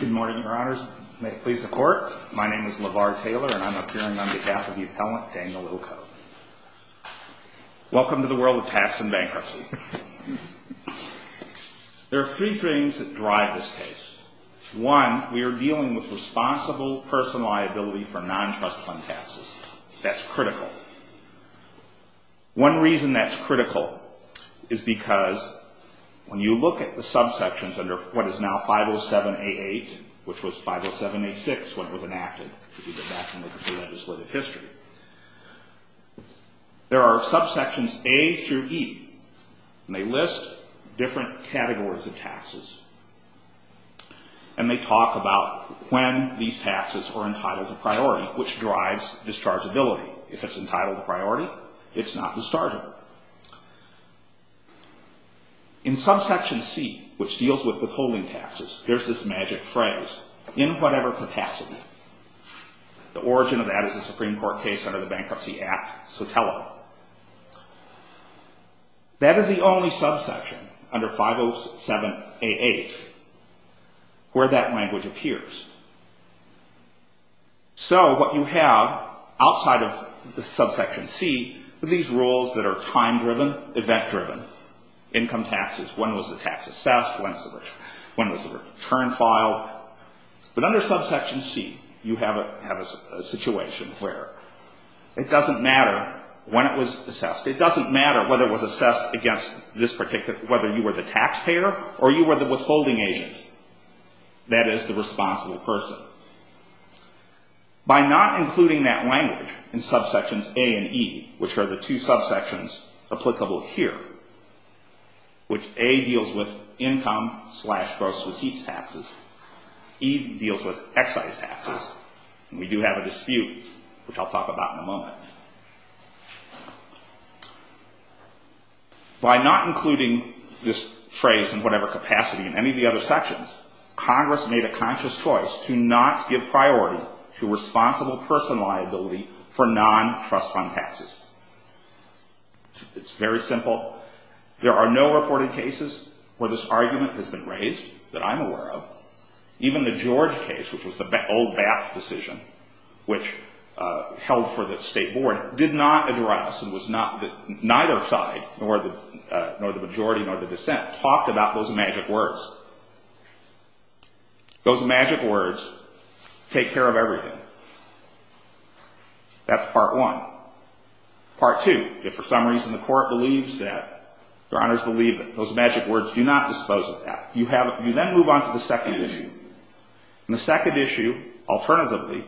Good morning, your honors. May it please the court, my name is LeVar Taylor and I'm appearing on behalf of the appellant, Daniel Ilko. Welcome to the world of tax and bankruptcy. There are three things that drive this case. One, we are dealing with responsible personal liability for non-trust fund taxes. That's critical. One reason that's critical is because when you look at the subsections under what is now 507A8, which was 507A6 when it was enacted, if you go back and look at the legislative history, there are subsections A through E. They list different categories of taxes and they talk about when these taxes are entitled to priority, which drives dischargeability. If it's entitled to priority, it's not dischargeable. In subsection C, which deals with withholding taxes, there's this magic phrase, in whatever capacity. The origin of that is a Supreme Court case under the Bankruptcy Act, so tell them. That is the only subsection under 507A8 where that language appears. So what you have outside of the subsection C are these rules that are time-driven, event-driven, income taxes. When was the tax assessed? When was the return filed? But under subsection C, you have a situation where it doesn't matter when it was assessed. It doesn't matter whether it was assessed against this particular, whether you were the taxpayer or you were the withholding agent. That is the responsible person. By not including that language in subsections A and E, which are the two subsections applicable here, which A deals with income slash gross receipts taxes, E deals with excise taxes, and we do have a dispute, which I'll talk about in a moment. By not including this phrase in whatever capacity in any of the other sections, Congress made a conscious choice to not give priority to responsible personal liability for non-trust fund taxes. It's very simple. There are no reported cases where this argument has been raised that I'm aware of. Even the George case, which was the old BAP decision, which held for the state board, did not address and neither side, nor the majority, nor the dissent, talked about those magic words. Those magic words take care of everything. That's part one. Part two, if for some reason the court believes that, your honors believe that, those magic words do not dispose of that. You then move on to the second issue. The second issue, alternatively,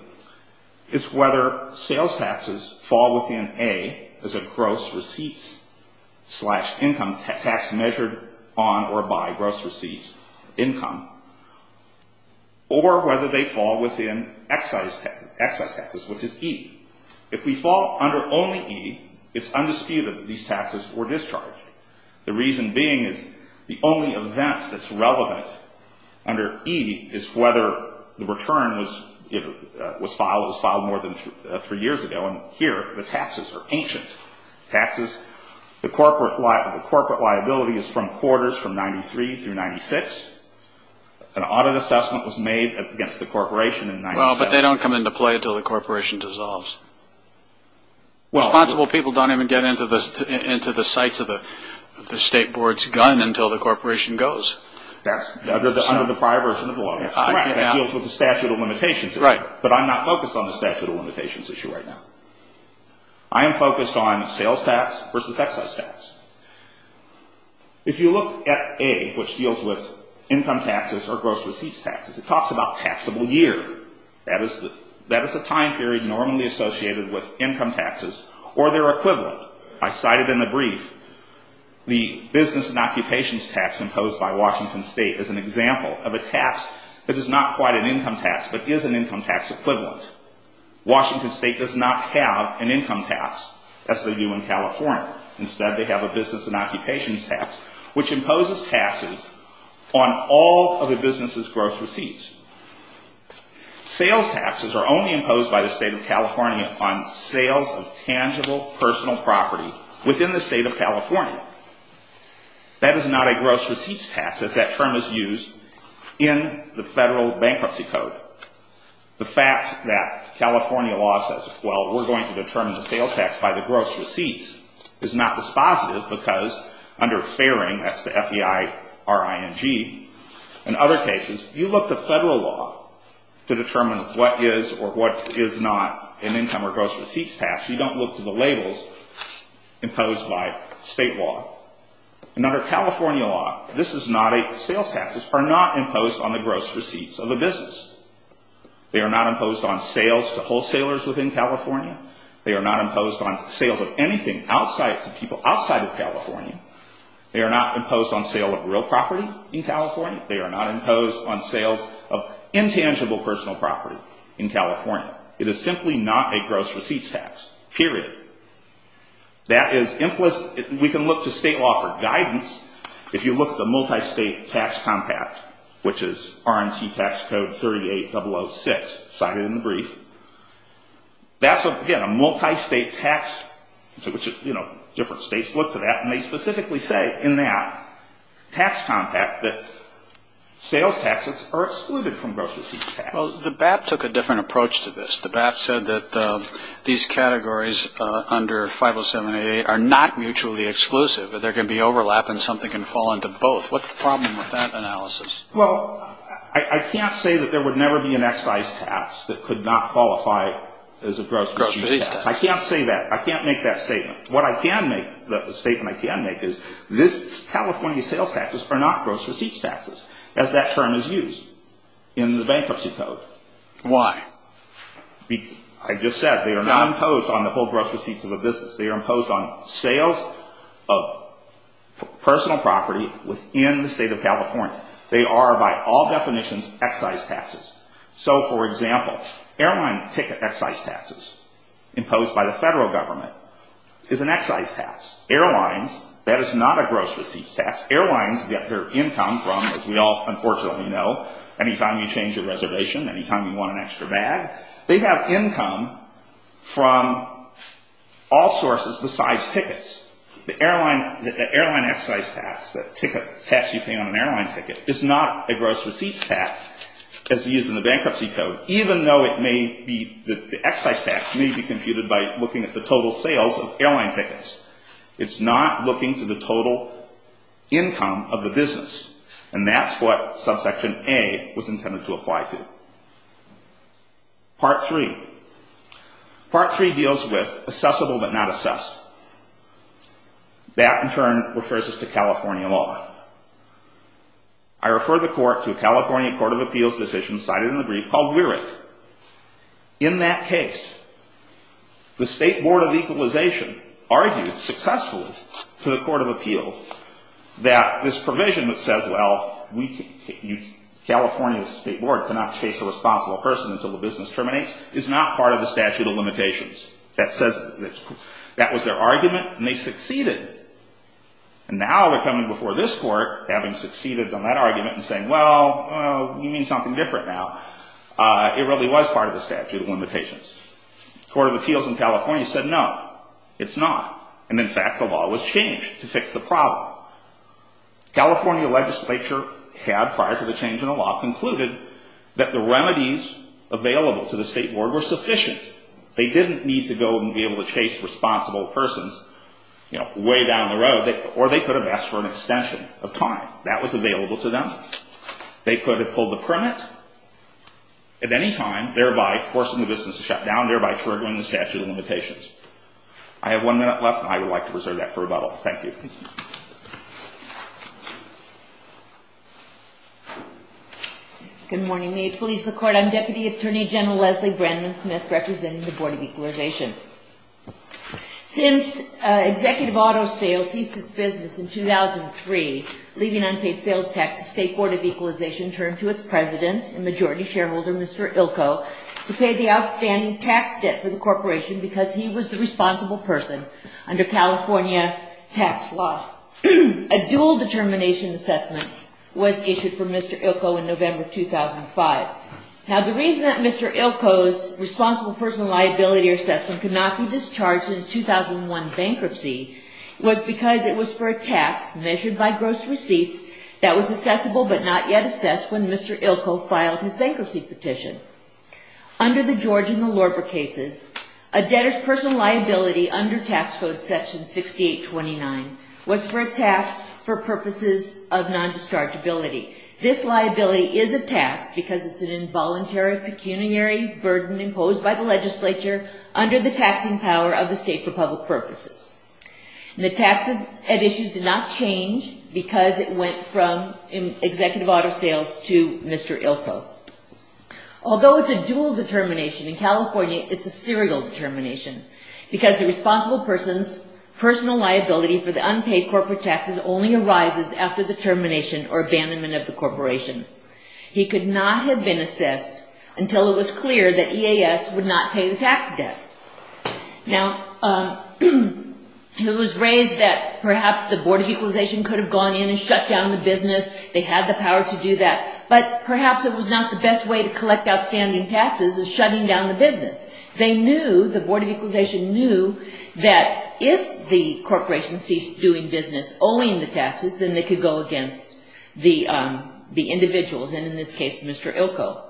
is whether sales taxes fall within A as a gross receipts slash income tax measured on or by gross receipts income, or whether they fall within excise taxes, which is E. If we fall under only E, it's undisputed that these taxes were discharged. The reason being is the only event that's relevant under E is whether the return was filed more than three years ago. And here, the taxes are ancient taxes. The corporate liability is from quarters from 93 through 96. An audit assessment was made against the corporation in 97. Well, but they don't come into play until the corporation dissolves. Responsible people don't even get into the sights of the state board's gun until the corporation goes. That's under the prior version of the law. That's correct. That deals with the statute of limitations. Right. But I'm not focused on the statute of limitations issue right now. I am focused on sales tax versus excise tax. If you look at A, which deals with income taxes or gross receipts taxes, it talks about taxable year. That is the time period normally associated with income taxes or their equivalent. I cited in the brief the business and occupations tax imposed by Washington State as an example of a tax that is not quite an income tax but is an income tax equivalent. Washington State does not have an income tax, as they do in California. Instead, they have a business and occupations tax, which imposes taxes on all of a business's gross receipts. Sales taxes are only imposed by the state of California on sales of tangible personal property within the state of California. That is not a gross receipts tax, as that term is used in the federal bankruptcy code. The fact that California law says, well, we're going to determine the sales tax by the gross receipts is not dispositive because under fairing, that's the F-E-I-R-I-N-G, in other cases, you look to federal law to determine what is or what is not an income or gross receipts tax. You don't look to the labels imposed by state law. And under California law, sales taxes are not imposed on the gross receipts of a business. They are not imposed on sales to wholesalers within California. They are not imposed on sales of anything to people outside of California. They are not imposed on sale of real property in California. They are not imposed on sales of intangible personal property in California. It is simply not a gross receipts tax, period. That is implicit. We can look to state law for guidance. If you look at the multistate tax compact, which is R&T Tax Code 38006, cited in the brief, that's, again, a multistate tax, you know, different states look to that, and they specifically say in that tax compact that sales taxes are excluded from gross receipts tax. Well, the BAP took a different approach to this. The BAP said that these categories under 50788 are not mutually exclusive, that there can be overlap and something can fall into both. What's the problem with that analysis? Well, I can't say that there would never be an excise tax that could not qualify as a gross receipts tax. I can't say that. I can't make that statement. What I can make, the statement I can make, is this California sales taxes are not gross receipts taxes, as that term is used in the bankruptcy code. Why? I just said they are not imposed on the whole gross receipts of a business. They are imposed on sales of personal property within the state of California. They are, by all definitions, excise taxes. So, for example, airline ticket excise taxes imposed by the federal government is an excise tax. Airlines, that is not a gross receipts tax. Airlines get their income from, as we all unfortunately know, anytime you change a reservation, anytime you want an extra bag. They have income from all sources besides tickets. The airline excise tax, the tax you pay on an airline ticket, is not a gross receipts tax as used in the bankruptcy code, even though it may be, the excise tax may be computed by looking at the total sales of airline tickets. It's not looking to the total income of the business, and that's what subsection A was intended to apply to. Part three. Part three deals with assessable but not assessed. That, in turn, refers us to California law. I refer the Court to a California Court of Appeals decision cited in the brief called Weirich. In that case, the State Board of Equalization argued successfully to the Court of Appeals that this provision that says, well, California State Board cannot chase a responsible person until the business terminates is not part of the statute of limitations. That was their argument, and they succeeded. And now they're coming before this court, having succeeded on that argument, and saying, well, you mean something different now. It really was part of the statute of limitations. The Court of Appeals in California said, no, it's not. And, in fact, the law was changed to fix the problem. California legislature had, prior to the change in the law, concluded that the remedies available to the State Board were sufficient. They didn't need to go and be able to chase responsible persons, you know, way down the road. Or they could have asked for an extension of time. That was available to them. They could have pulled the permit at any time, thereby forcing the business to shut down, thereby triggering the statute of limitations. I have one minute left, and I would like to reserve that for rebuttal. Thank you. Thank you. Good morning. May it please the Court. I'm Deputy Attorney General Leslie Brandman-Smith, representing the Board of Equalization. Since executive auto sales ceased its business in 2003, leaving unpaid sales tax, the State Board of Equalization turned to its president and majority shareholder, Mr. Ilko, to pay the outstanding tax debt for the corporation because he was the responsible person under California tax law. A dual determination assessment was issued for Mr. Ilko in November 2005. Now, the reason that Mr. Ilko's responsible personal liability assessment could not be discharged since 2001 bankruptcy was because it was for a tax measured by gross receipts that was assessable but not yet assessed when Mr. Ilko filed his bankruptcy petition. Under the George and the Lorber cases, a debtor's personal liability under Tax Code Section 6829 was for a tax for purposes of non-dischargeability. This liability is a tax because it's an involuntary pecuniary burden imposed by the legislature under the taxing power of the state for public purposes. The taxes at issue did not change because it went from executive auto sales to Mr. Ilko. Although it's a dual determination in California, it's a serial determination because the responsible person's personal liability for the unpaid corporate taxes only arises after the termination or abandonment of the corporation. He could not have been assessed until it was clear that EAS would not pay the tax debt. Now, it was raised that perhaps the Board of Equalization could have gone in and shut down the business. They had the power to do that, but perhaps it was not the best way to collect outstanding taxes is shutting down the business. They knew, the Board of Equalization knew, that if the corporation ceased doing business, owing the taxes, then they could go against the individuals, and in this case, Mr. Ilko.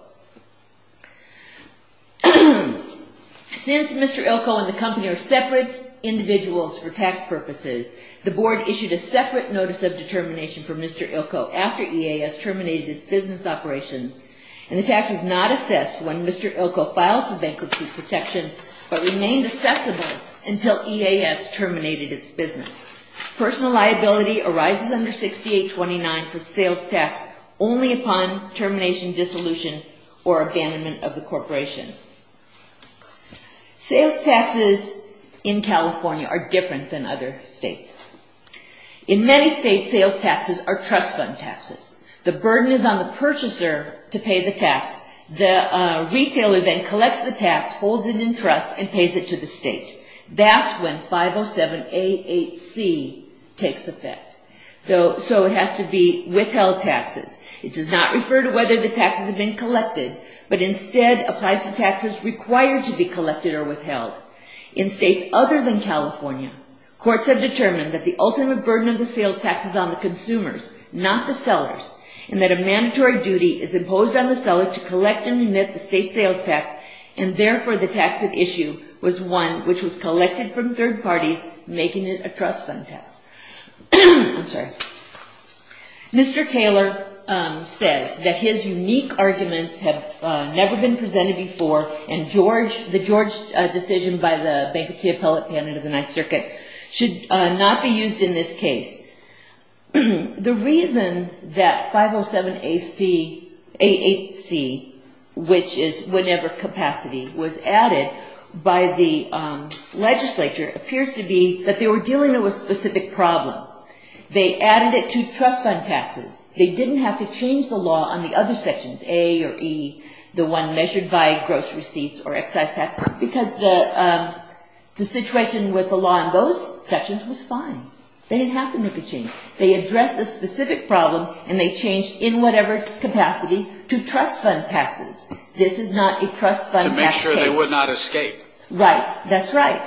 Since Mr. Ilko and the company are separate individuals for tax purposes, the Board issued a separate notice of determination for Mr. Ilko after EAS terminated its business operations, and the tax was not assessed when Mr. Ilko filed for bankruptcy protection, but remained assessable until EAS terminated its business. Personal liability arises under 6829 for sales tax only upon termination, dissolution, or abandonment of the corporation. Sales taxes in California are different than other states. In many states, sales taxes are trust fund taxes. The burden is on the purchaser to pay the tax. The retailer then collects the tax, holds it in trust, and pays it to the state. That's when 507A8C takes effect. So it has to be withheld taxes. It does not refer to whether the taxes have been collected, but instead applies to taxes required to be collected or withheld. In states other than California, courts have determined that the ultimate burden of the sales tax is on the consumers, not the sellers, and that a mandatory duty is imposed on the seller to collect and emit the state sales tax, and therefore the tax at issue was one which was collected from third parties, making it a trust fund tax. I'm sorry. Mr. Taylor says that his unique arguments have never been presented before, and the George decision by the bankruptcy appellate candidate of the Ninth Circuit should not be used in this case. The reason that 507A8C, which is whenever capacity was added by the legislature, appears to be that they were dealing with a specific problem. They added it to trust fund taxes. They didn't have to change the law on the other sections, A or E, the one measured by gross receipts or excise tax, because the situation with the law in those sections was fine. They didn't have to make a change. They addressed a specific problem, and they changed in whatever capacity to trust fund taxes. This is not a trust fund tax case. To make sure they would not escape. Right. That's right.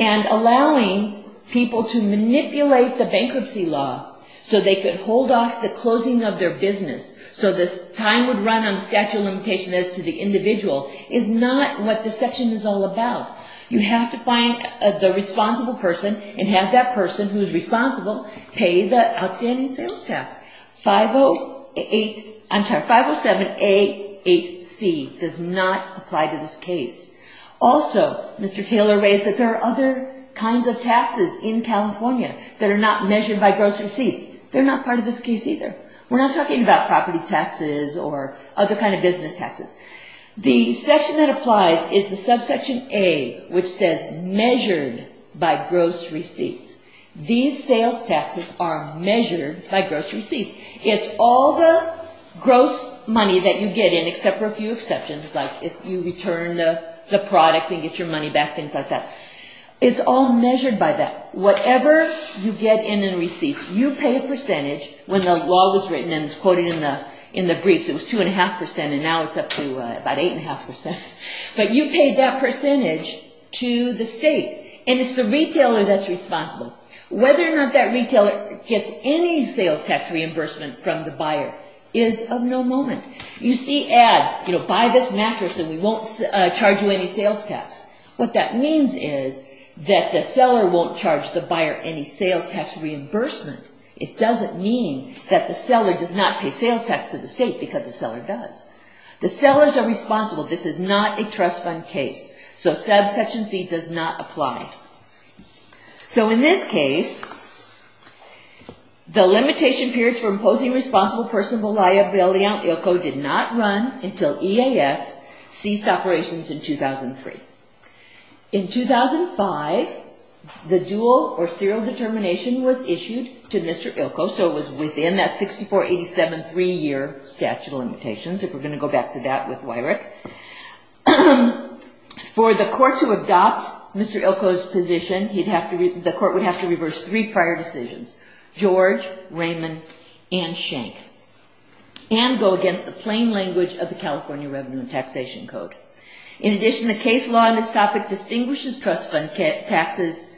And allowing people to manipulate the bankruptcy law so they could hold off the closing of their business so this time would run on statute of limitations as to the individual is not what this section is all about. You have to find the responsible person and have that person who's responsible pay the outstanding sales tax. 507A8C does not apply to this case. Also, Mr. Taylor raised that there are other kinds of taxes in California that are not measured by gross receipts. They're not part of this case either. We're not talking about property taxes or other kind of business taxes. The section that applies is the subsection A, which says measured by gross receipts. These sales taxes are measured by gross receipts. It's all the gross money that you get in, except for a few exceptions, like if you return the product and get your money back, things like that. It's all measured by that. Whatever you get in in receipts, you pay a percentage when the law was written and it's quoted in the briefs. It was 2.5% and now it's up to about 8.5%, but you paid that percentage to the state. It's the retailer that's responsible. Whether or not that retailer gets any sales tax reimbursement from the buyer is of no moment. You see ads, buy this mattress and we won't charge you any sales tax. What that means is that the seller won't charge the buyer any sales tax reimbursement. It doesn't mean that the seller does not pay sales tax to the state because the seller does. The sellers are responsible. This is not a trust fund case. So subsection C does not apply. So in this case, the limitation periods for imposing responsible personal liability on ILCO did not run until EAS ceased operations in 2003. In 2005, the dual or serial determination was issued to Mr. ILCO, so it was within that 64-87 three-year statute of limitations, if we're going to go back to that with WIREC. For the court to adopt Mr. ILCO's position, the court would have to reverse three prior decisions, George, Raymond, and Schenck, and go against the plain language of the California Revenue and Taxation Code. In addition, the case law in this topic distinguishes trust fund taxes,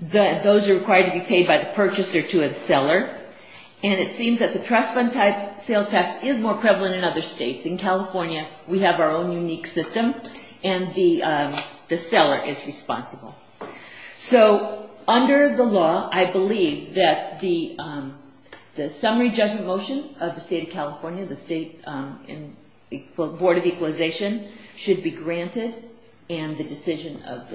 those are required to be paid by the purchaser to a seller, and it seems that the trust fund type sales tax is more prevalent in other states. In California, we have our own unique system, and the seller is responsible. So under the law, I believe that the summary judgment motion of the State of California, the Board of Equalization, should be granted, and the decision of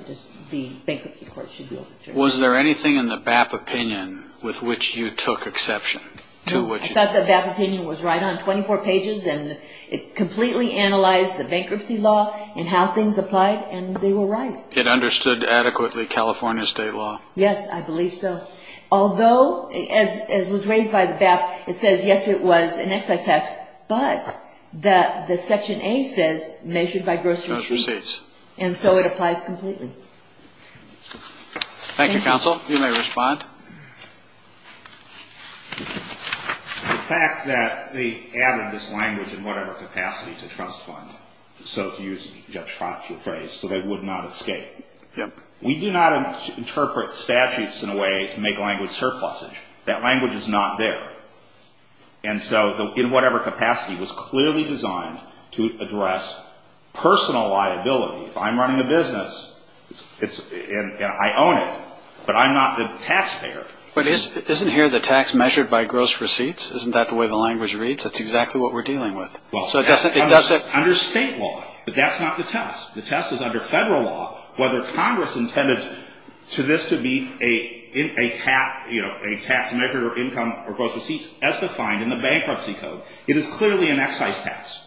the bankruptcy court should be overturned. Was there anything in the BAP opinion with which you took exception? No, I thought the BAP opinion was right on 24 pages, and it completely analyzed the bankruptcy law and how things applied, and they were right. It understood adequately California State law? Yes, I believe so. Although, as was raised by the BAP, it says, yes, it was an excise tax, but the section A says measured by gross receipts, and so it applies completely. Thank you, counsel. You may respond. The fact that they added this language in whatever capacity to trust fund, so to use Judge Frantz's phrase, so they would not escape. We do not interpret statutes in a way to make language surpluses. That language is not there. And so, in whatever capacity, it was clearly designed to address personal liability. If I'm running a business, and I own it, but I'm not the taxpayer. But isn't here the tax measured by gross receipts? Isn't that the way the language reads? That's exactly what we're dealing with. Under state law, but that's not the test. The test is under federal law, whether Congress intended for this to be a tax measured or income or gross receipts, as defined in the bankruptcy code. It is clearly an excise tax.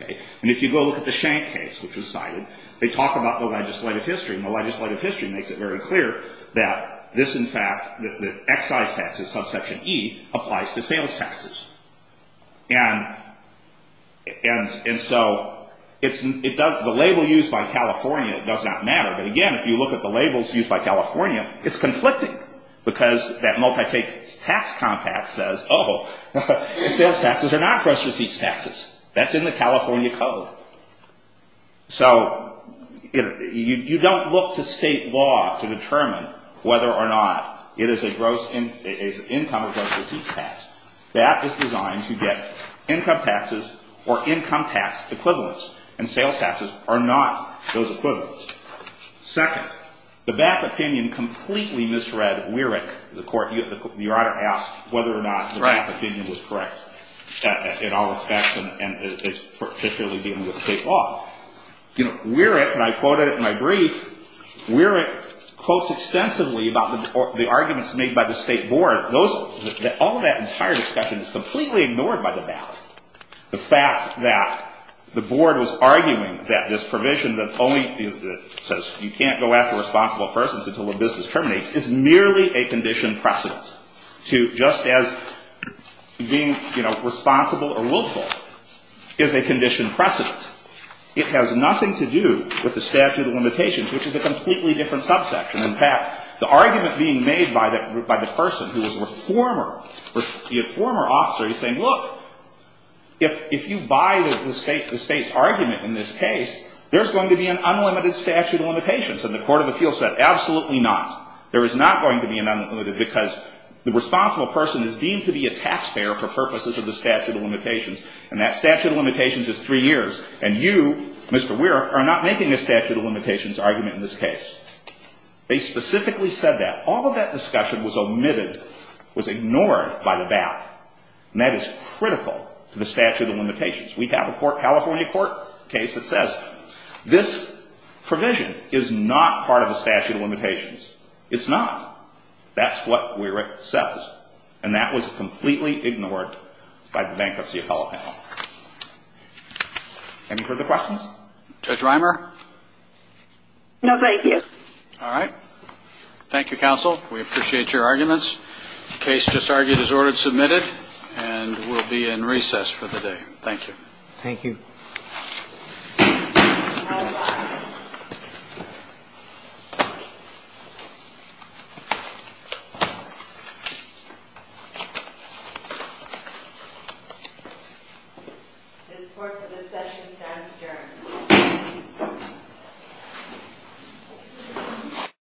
And if you go look at the Schenck case, which was cited, they talk about the legislative history, and the legislative history makes it very clear that this, in fact, the excise taxes, subsection E, applies to sales taxes. And so, the label used by California does not matter. But again, if you look at the labels used by California, it's conflicting. Because that multi-tax compact says, oh, sales taxes are not gross receipts taxes. That's in the California code. So, you don't look to state law to determine whether or not it is an income or gross receipts tax. That is designed to get income taxes or income tax equivalents. And sales taxes are not those equivalents. Second, the back opinion completely misread Weirich. The court, the order asked whether or not the back opinion was correct in all respects, and it's particularly dealing with state law. You know, Weirich, and I quoted it in my brief, Weirich quotes extensively about the arguments made by the state board. All of that entire discussion is completely ignored by the back. The fact that the board was arguing that this provision that says you can't go after responsible persons until the business terminates is merely a condition precedent to just as being responsible or willful is a condition precedent. It has nothing to do with the statute of limitations, which is a completely different subsection. In fact, the argument being made by the person who was a former officer, he's saying, look, if you buy the state's argument in this case, there's going to be an unlimited statute of limitations. And the court of appeals said, absolutely not. There is not going to be an unlimited because the responsible person is deemed to be a taxpayer for purposes of the statute of limitations. And that statute of limitations is three years. And you, Mr. Weirich, are not making a statute of limitations argument in this case. They specifically said that. All of that discussion was omitted, was ignored by the back. And that is critical to the statute of limitations. We have a California court case that says this provision is not part of the statute of limitations. It's not. That's what Weirich says. And that was completely ignored by the bankruptcy appellate panel. Any further questions? Judge Reimer? No, thank you. All right. Thank you, counsel. We appreciate your arguments. The case just argued is ordered submitted. And we'll be in recess for the day. Thank you. Thank you. All rise. This court for this session stands adjourned.